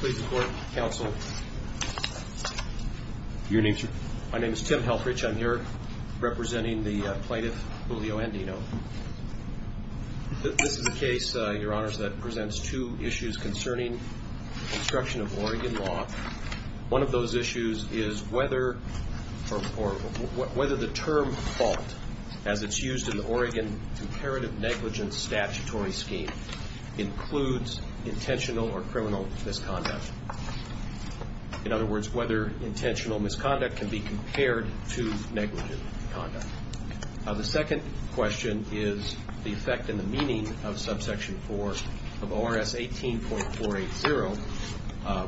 Please report, counsel. Your name, sir? My name is Tim Helfrich. I'm here representing the plaintiff, Julio Andino. This is a case, Your Honors, that presents two issues concerning construction of Oregon law. One of those issues is whether the term fault, as it's used in the Oregon Comparative Negligence Statutory Scheme, includes intentional or criminal misconduct. In other words, whether intentional misconduct can be compared to negligent conduct. The second question is the effect and the meaning of subsection 4 of ORS 18.480,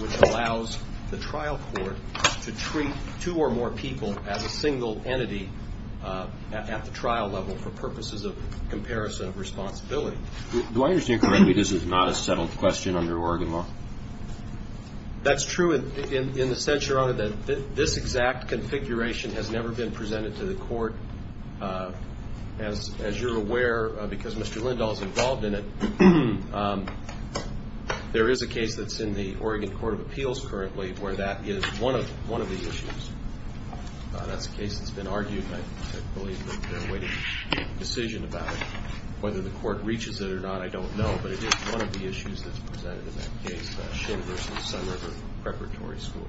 which allows the trial court to treat two or more people as a single entity at the trial level for purposes of comparison of responsibility. Do I understand correctly this is not a settled question under Oregon law? That's true in the sense, Your Honor, that this exact configuration has never been presented to the court. As you're aware, because Mr. Lindahl is involved in it, there is a case that's in the Oregon Court of Appeals currently where that is one of the issues. That's a case that's been argued, and I believe that they're awaiting a decision about it. Whether the court reaches it or not, I don't know, but it is one of the issues that's presented in that case, Schinn v. Sunriver Preparatory School.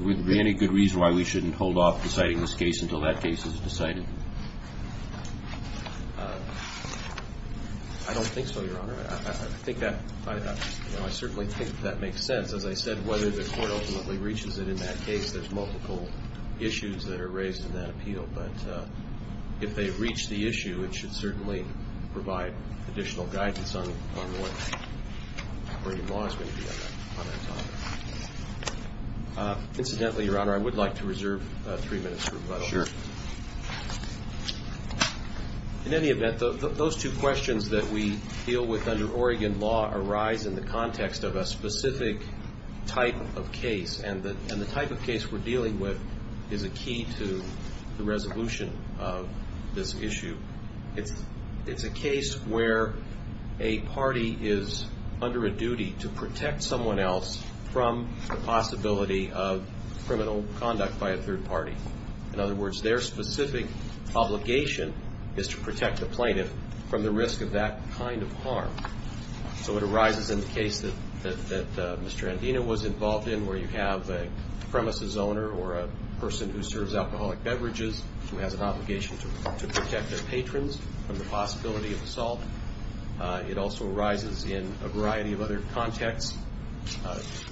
Would there be any good reason why we shouldn't hold off deciding this case until that case is decided? I don't think so, Your Honor. I certainly think that makes sense. As I said, whether the court ultimately reaches it in that case, there's multiple issues that are raised in that appeal. But if they reach the issue, it should certainly provide additional guidance on what Oregon law is going to be on that topic. Incidentally, Your Honor, I would like to reserve three minutes for rebuttal. Sure. In any event, those two questions that we deal with under Oregon law arise in the context of a specific type of case, and the type of case we're dealing with is a key to the resolution of this issue. It's a case where a party is under a duty to protect someone else from the possibility of criminal conduct by a third party. In other words, their specific obligation is to protect the plaintiff from the risk of that kind of harm. So it arises in the case that Mr. Andina was involved in, where you have a premises owner or a person who serves alcoholic beverages who has an obligation to protect their patrons from the possibility of assault. It also arises in a variety of other contexts.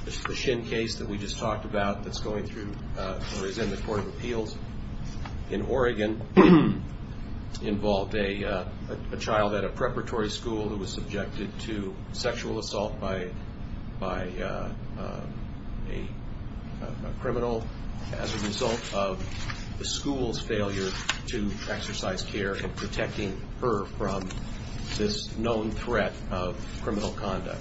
The Shin case that we just talked about that's going through or is in the Court of Appeals in Oregon involved a child at a preparatory school who was subjected to sexual assault by a criminal as a result of the school's failure to exercise care in protecting her from this known threat of criminal conduct.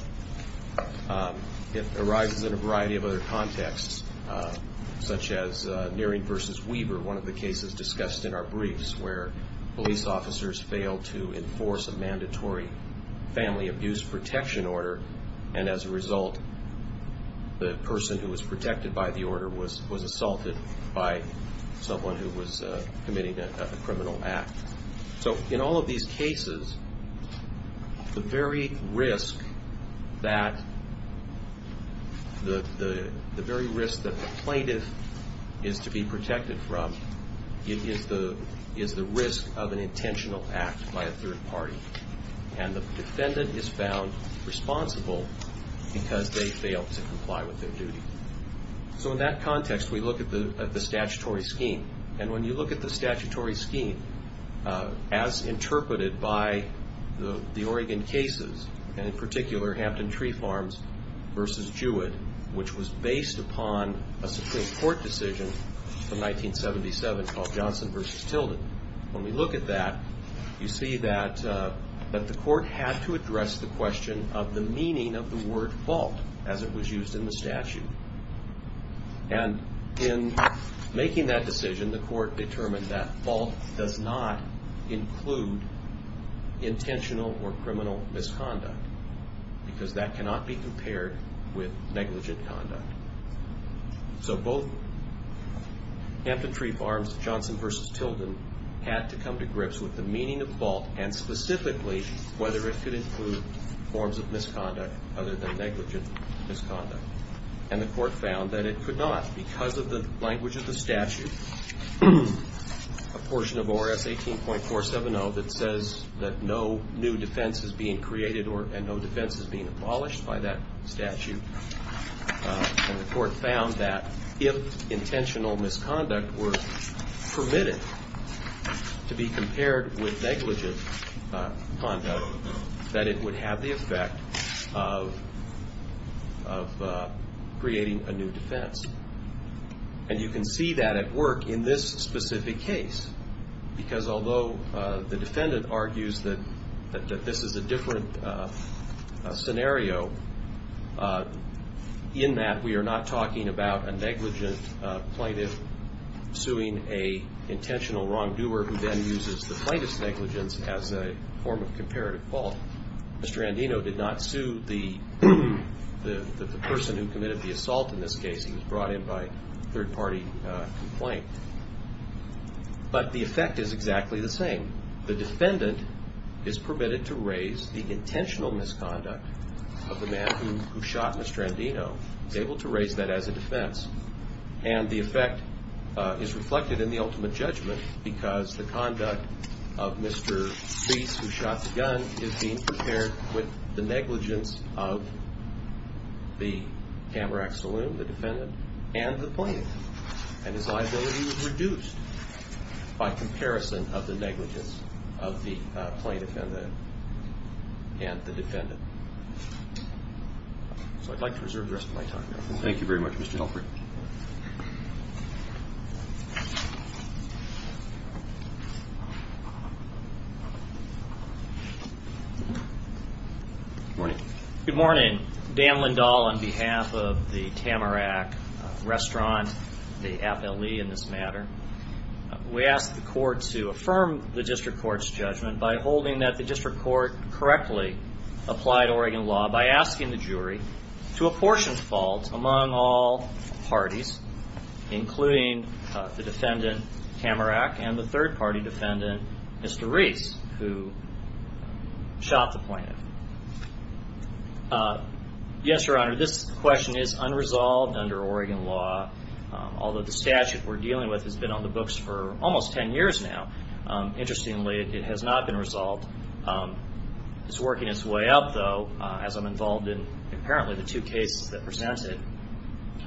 It arises in a variety of other contexts, such as Neering v. Weber, one of the cases discussed in our briefs, where police officers failed to enforce a mandatory family abuse protection order, and as a result, the person who was protected by the order was assaulted by someone who was committing a criminal act. So in all of these cases, the very risk that the plaintiff is to be protected from is the risk of an intentional act by a third party. And the defendant is found responsible because they failed to comply with their duty. So in that context, we look at the statutory scheme. And when you look at the statutory scheme, as interpreted by the Oregon cases, and in particular Hampton Tree Farms v. Jewett, which was based upon a Supreme Court decision from 1977 called Johnson v. Tilden, when we look at that, you see that the court had to address the question of the meaning of the word fault as it was used in the statute. And in making that decision, the court determined that fault does not include intentional or criminal misconduct because that cannot be compared with negligent conduct. So both Hampton Tree Farms, Johnson v. Tilden, had to come to grips with the meaning of fault and specifically whether it could include forms of misconduct other than negligent misconduct. And the court found that it could not because of the language of the statute, a portion of ORS 18.470 that says that no new defense is being created and no defense is being abolished by that statute. And the court found that if intentional misconduct were permitted to be compared with negligent conduct, that it would have the effect of creating a new defense. And you can see that at work in this specific case because although the defendant argues that this is a different scenario, in that we are not talking about a negligent plaintiff suing an intentional wrongdoer who then uses the plaintiff's negligence as a form of comparative fault. Mr. Andino did not sue the person who committed the assault in this case. He was brought in by a third-party complaint. But the effect is exactly the same. The defendant is permitted to raise the intentional misconduct of the man who shot Mr. Andino. He's able to raise that as a defense. And the effect is reflected in the ultimate judgment because the conduct of Mr. Reese, who shot the gun, is being compared with the negligence of the camerax saloon, the defendant, and the plaintiff. And his liability was reduced by comparison of the negligence of the plaintiff and the defendant. So I'd like to reserve the rest of my time. Thank you very much, Mr. Helfrich. Good morning. Good morning. Dan Lindahl on behalf of the Tamarack Restaurant, the FLE in this matter. We ask the court to affirm the district court's judgment by holding that the district court correctly applied Oregon law by asking the jury to apportion faults among all parties, including the defendant, Tamarack, and the third-party defendant, Mr. Reese, who shot the plaintiff. Yes, Your Honor, this question is unresolved under Oregon law, although the statute we're dealing with has been on the books for almost 10 years now. Interestingly, it has not been resolved. It's working its way up, though, as I'm involved in apparently the two cases that presented.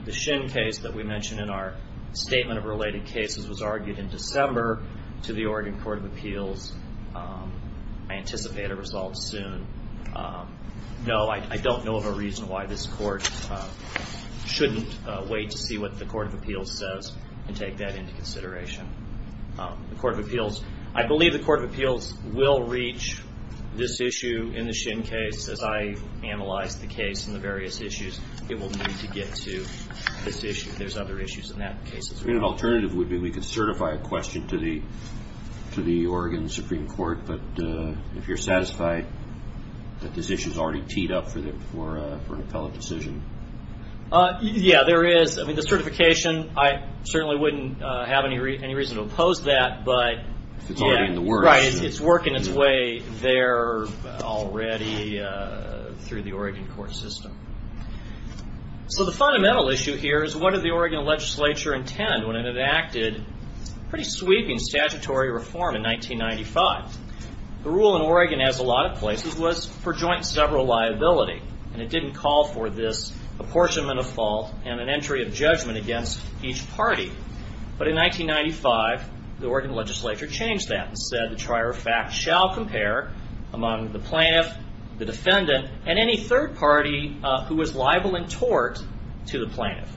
The Shin case that we mentioned in our statement of related cases was argued in December to the Oregon Court of Appeals. I anticipate a resolve soon. No, I don't know of a reason why this court shouldn't wait to see what the Court of Appeals says and take that into consideration. I believe the Court of Appeals will reach this issue in the Shin case. As I analyze the case and the various issues, it will need to get to this issue. There's other issues in that case as well. An alternative would be we could certify a question to the Oregon Supreme Court, but if you're satisfied that this issue is already teed up for an appellate decision. Yeah, there is. The certification, I certainly wouldn't have any reason to oppose that. If it's already in the works. Right, it's working its way there already through the Oregon court system. The fundamental issue here is what did the Oregon legislature intend when it enacted pretty sweeping statutory reform in 1995? The rule in Oregon, as a lot of places, was for joint and several liability. It didn't call for this apportionment of fault and an entry of judgment against each party. But in 1995, the Oregon legislature changed that and said, the trier of fact shall compare among the plaintiff, the defendant, and any third party who is liable in tort to the plaintiff.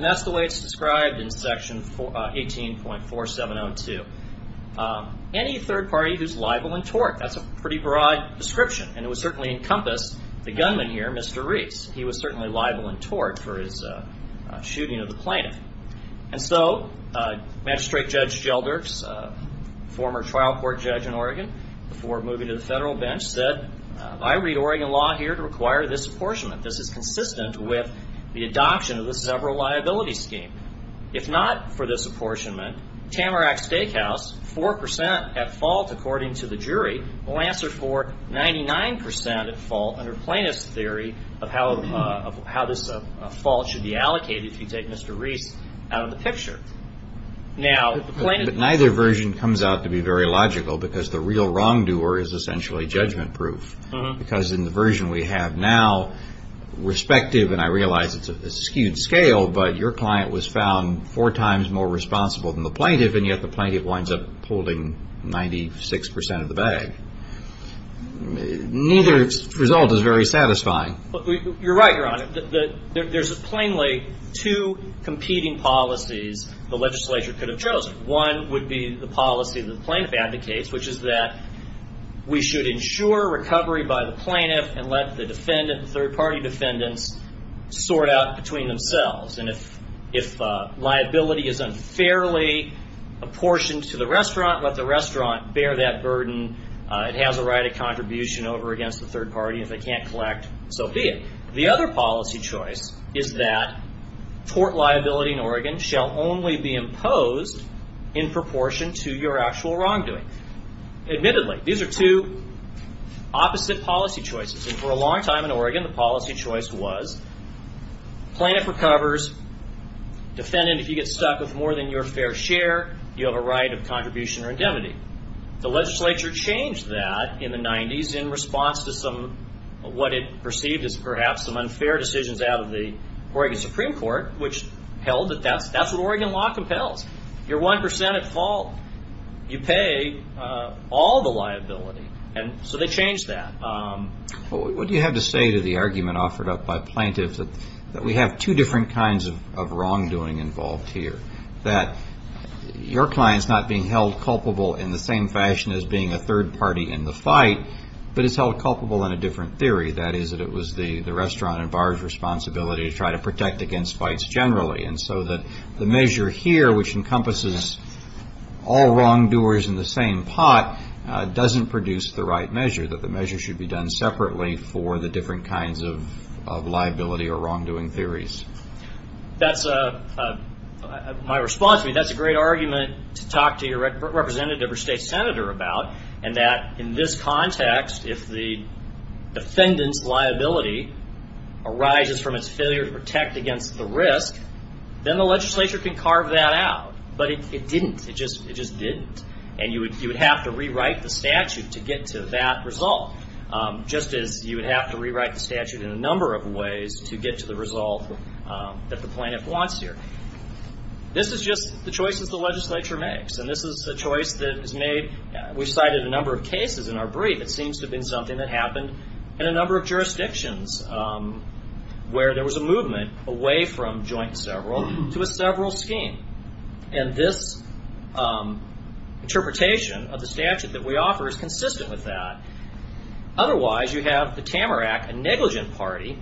That's the way it's described in section 18.4702. Any third party who's liable in tort, that's a pretty broad description. And it would certainly encompass the gunman here, Mr. Reese. He was certainly liable in tort for his shooting of the plaintiff. And so Magistrate Judge Gelder, former trial court judge in Oregon, before moving to the federal bench said, I read Oregon law here to require this apportionment. This is consistent with the adoption of the several liability scheme. If not for this apportionment, Tamarack Steakhouse, 4% at fault according to the jury, will answer for 99% at fault under plaintiff's theory of how this fault should be allocated if you take Mr. Reese out of the picture. But neither version comes out to be very logical because the real wrongdoer is essentially judgment proof. Because in the version we have now, respective, and I realize it's a skewed scale, but your client was found four times more responsible than the plaintiff, and yet the plaintiff winds up holding 96% of the bag. Neither result is very satisfying. You're right, Your Honor. There's plainly two competing policies the legislature could have chosen. One would be the policy that the plaintiff advocates, which is that we should ensure recovery by the plaintiff and let the third-party defendants sort out between themselves. And if liability is unfairly apportioned to the restaurant, let the restaurant bear that burden. It has a right of contribution over against the third party. If they can't collect, so be it. The other policy choice is that tort liability in Oregon shall only be imposed in proportion to your actual wrongdoing. Admittedly, these are two opposite policy choices. For a long time in Oregon, the policy choice was plaintiff recovers, defendant, if you get stuck with more than your fair share, you have a right of contribution or indemnity. The legislature changed that in the 90s in response to some, what it perceived as perhaps some unfair decisions out of the Oregon Supreme Court, which held that that's what Oregon law compels. You're 1% at fault. You pay all the liability. So they changed that. What do you have to say to the argument offered up by plaintiffs that we have two different kinds of wrongdoing involved here, that your client's not being held culpable in the same fashion as being a third party in the fight, but is held culpable in a different theory, that is that it was the restaurant and bar's responsibility to try to protect against fights generally, and so that the measure here, which encompasses all wrongdoers in the same pot, doesn't produce the right measure, that the measure should be done separately for the different kinds of liability or wrongdoing theories? My response would be that's a great argument to talk to your representative or state senator about, and that in this context, if the defendant's liability arises from its failure to protect against the risk, then the legislature can carve that out. But it didn't. It just didn't. And you would have to rewrite the statute to get to that result, just as you would have to rewrite the statute in a number of ways to get to the result that the plaintiff wants here. This is just the choices the legislature makes, and this is a choice that is made. We've cited a number of cases in our brief. It seems to have been something that happened in a number of jurisdictions where there was a movement away from joint and several to a several scheme, and this interpretation of the statute that we offer is consistent with that. Otherwise, you have the Tamarack, a negligent party,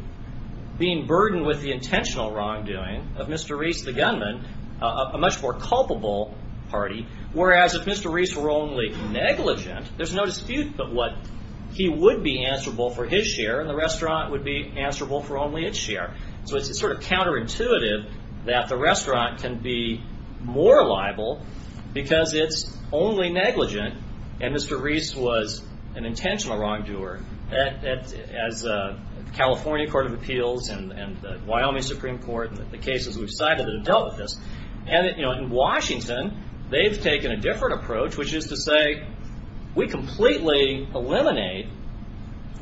being burdened with the intentional wrongdoing of Mr. Reese, the gunman, a much more culpable party, whereas if Mr. Reese were only negligent, there's no dispute that he would be answerable for his share and the restaurant would be answerable for only its share. So it's sort of counterintuitive that the restaurant can be more liable because it's only negligent and Mr. Reese was an intentional wrongdoer. As the California Court of Appeals and the Wyoming Supreme Court and the cases we've cited have dealt with this. In Washington, they've taken a different approach, which is to say we completely eliminate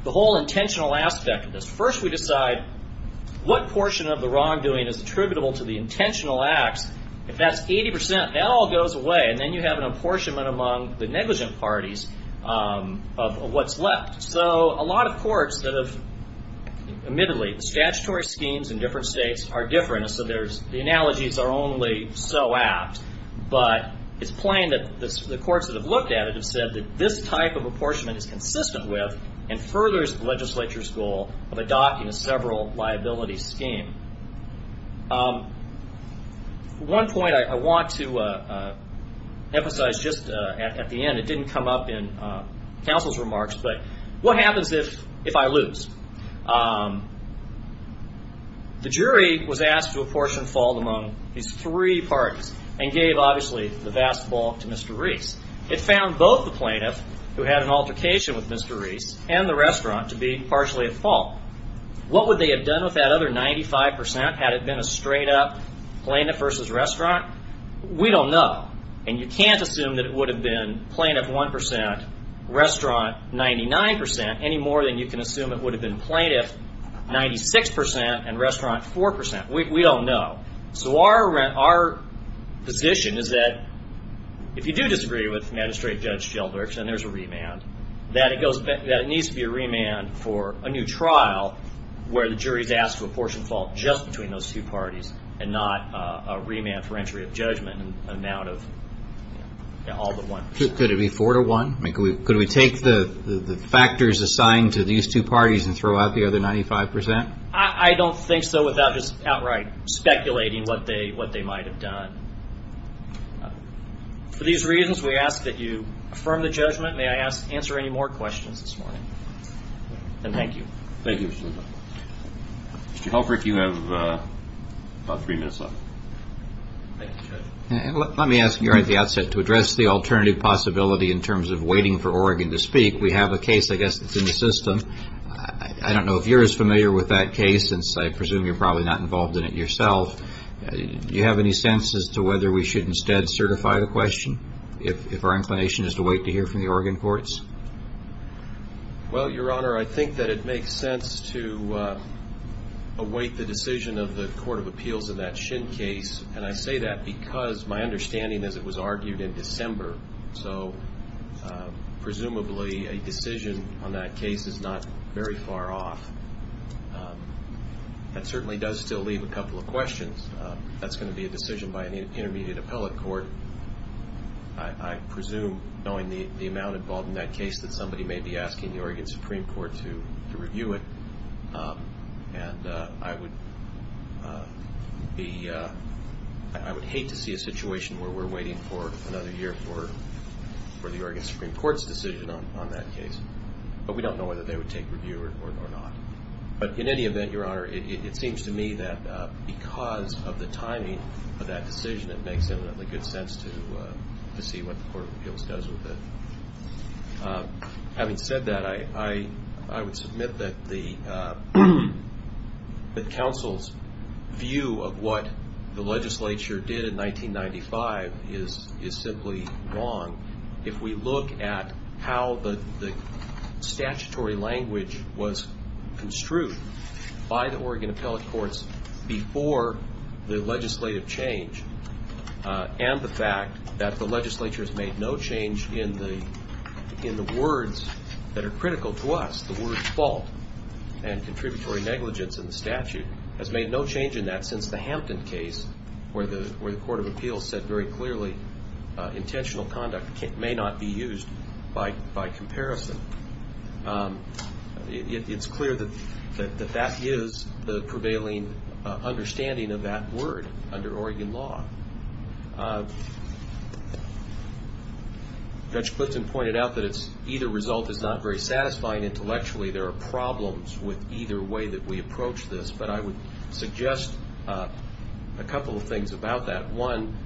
the whole intentional aspect of this. First, we decide what portion of the wrongdoing is attributable to the intentional acts. If that's 80%, that all goes away, and then you have an apportionment among the negligent parties of what's left. So a lot of courts that have, admittedly, statutory schemes in different states are different, so the analogies are only so apt, but it's plain that the courts that have looked at it have said that this type of apportionment is consistent with and furthers the legislature's goal of adopting a several liability scheme. One point I want to emphasize just at the end. It didn't come up in counsel's remarks, but what happens if I lose? The jury was asked to apportion fault among these three parties and gave, obviously, the vast fault to Mr. Reese. It found both the plaintiff, who had an altercation with Mr. Reese, and the restaurant to be partially at fault. What would they have done with that other 95%? Had it been a straight-up plaintiff versus restaurant? We don't know, and you can't assume that it would have been plaintiff 1%, restaurant 99%, any more than you can assume it would have been plaintiff 96%, and restaurant 4%. We don't know. So our position is that if you do disagree with Magistrate Judge Sheldrick, then there's a remand, that it needs to be a remand for a new trial where the jury is asked to apportion fault just between those two parties and not a remand for entry of judgment and an amount of all but one. Could it be four to one? Could we take the factors assigned to these two parties and throw out the other 95%? I don't think so without just outright speculating what they might have done. For these reasons, we ask that you affirm the judgment. May I answer any more questions this morning? And thank you. Thank you, Mr. Lindahl. Mr. Sheldrick, you have about three minutes left. Thank you, Judge. Let me ask you right at the outset to address the alternative possibility in terms of waiting for Oregon to speak. We have a case, I guess, that's in the system. I don't know if you're as familiar with that case, since I presume you're probably not involved in it yourself. Do you have any sense as to whether we should instead certify the question if our inclination is to wait to hear from the Oregon courts? Well, Your Honor, I think that it makes sense to await the decision of the Court of Appeals in that Shin case, and I say that because my understanding is it was argued in December, so presumably a decision on that case is not very far off. That certainly does still leave a couple of questions. That's going to be a decision by an intermediate appellate court. I presume, knowing the amount involved in that case, that somebody may be asking the Oregon Supreme Court to review it. And I would hate to see a situation where we're waiting for another year for the Oregon Supreme Court's decision on that case. But we don't know whether they would take review or not. But in any event, Your Honor, it seems to me that because of the timing of that decision, it makes eminently good sense to see what the Court of Appeals does with it. Having said that, I would submit that the counsel's view of what the legislature did in 1995 is simply wrong. If we look at how the statutory language was construed by the Oregon appellate courts before the legislative change and the fact that the legislature has made no change in the words that are critical to us, the word fault and contributory negligence in the statute, has made no change in that since the Hampton case where the Court of Appeals said very clearly intentional conduct may not be used by comparison. It's clear that that is the prevailing understanding of that word under Oregon law. Judge Clitson pointed out that either result is not very satisfying intellectually. There are problems with either way that we approach this. But I would suggest a couple of things about that. One,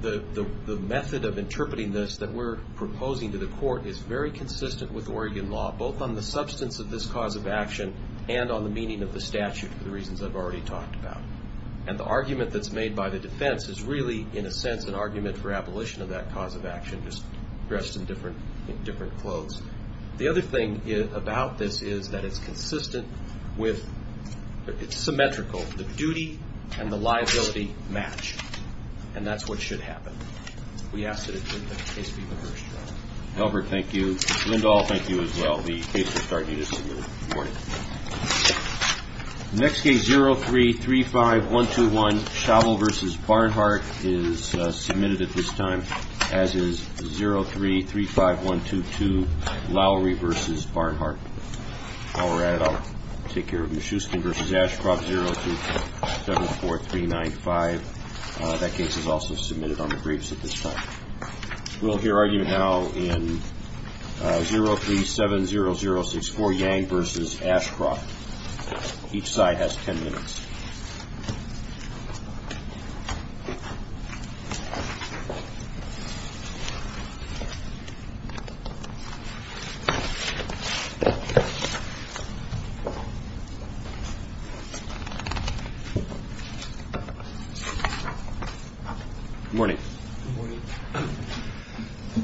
the method of interpreting this that we're proposing to the court is very consistent with Oregon law, both on the substance of this cause of action and on the meaning of the statute, for the reasons I've already talked about. And the argument that's made by the defense is really, in a sense, an argument for abolition of that cause of action, just dressed in different clothes. The other thing about this is that it's consistent with, it's symmetrical. The duty and the liability match. And that's what should happen. We ask that it be the case be reversed. Albert, thank you. Linda, I'll thank you as well. The case will start in just a moment. Good morning. The next case, 0335121, Shavell v. Barnhart, is submitted at this time, as is 0335122, Lowry v. Barnhart. While we're at it, I'll take care of it. Shuskin v. Ashcroft, 02374395. That case is also submitted on the briefs at this time. We'll hear argument now in 0370064, Yang v. Ashcroft. Each side has ten minutes. Good morning.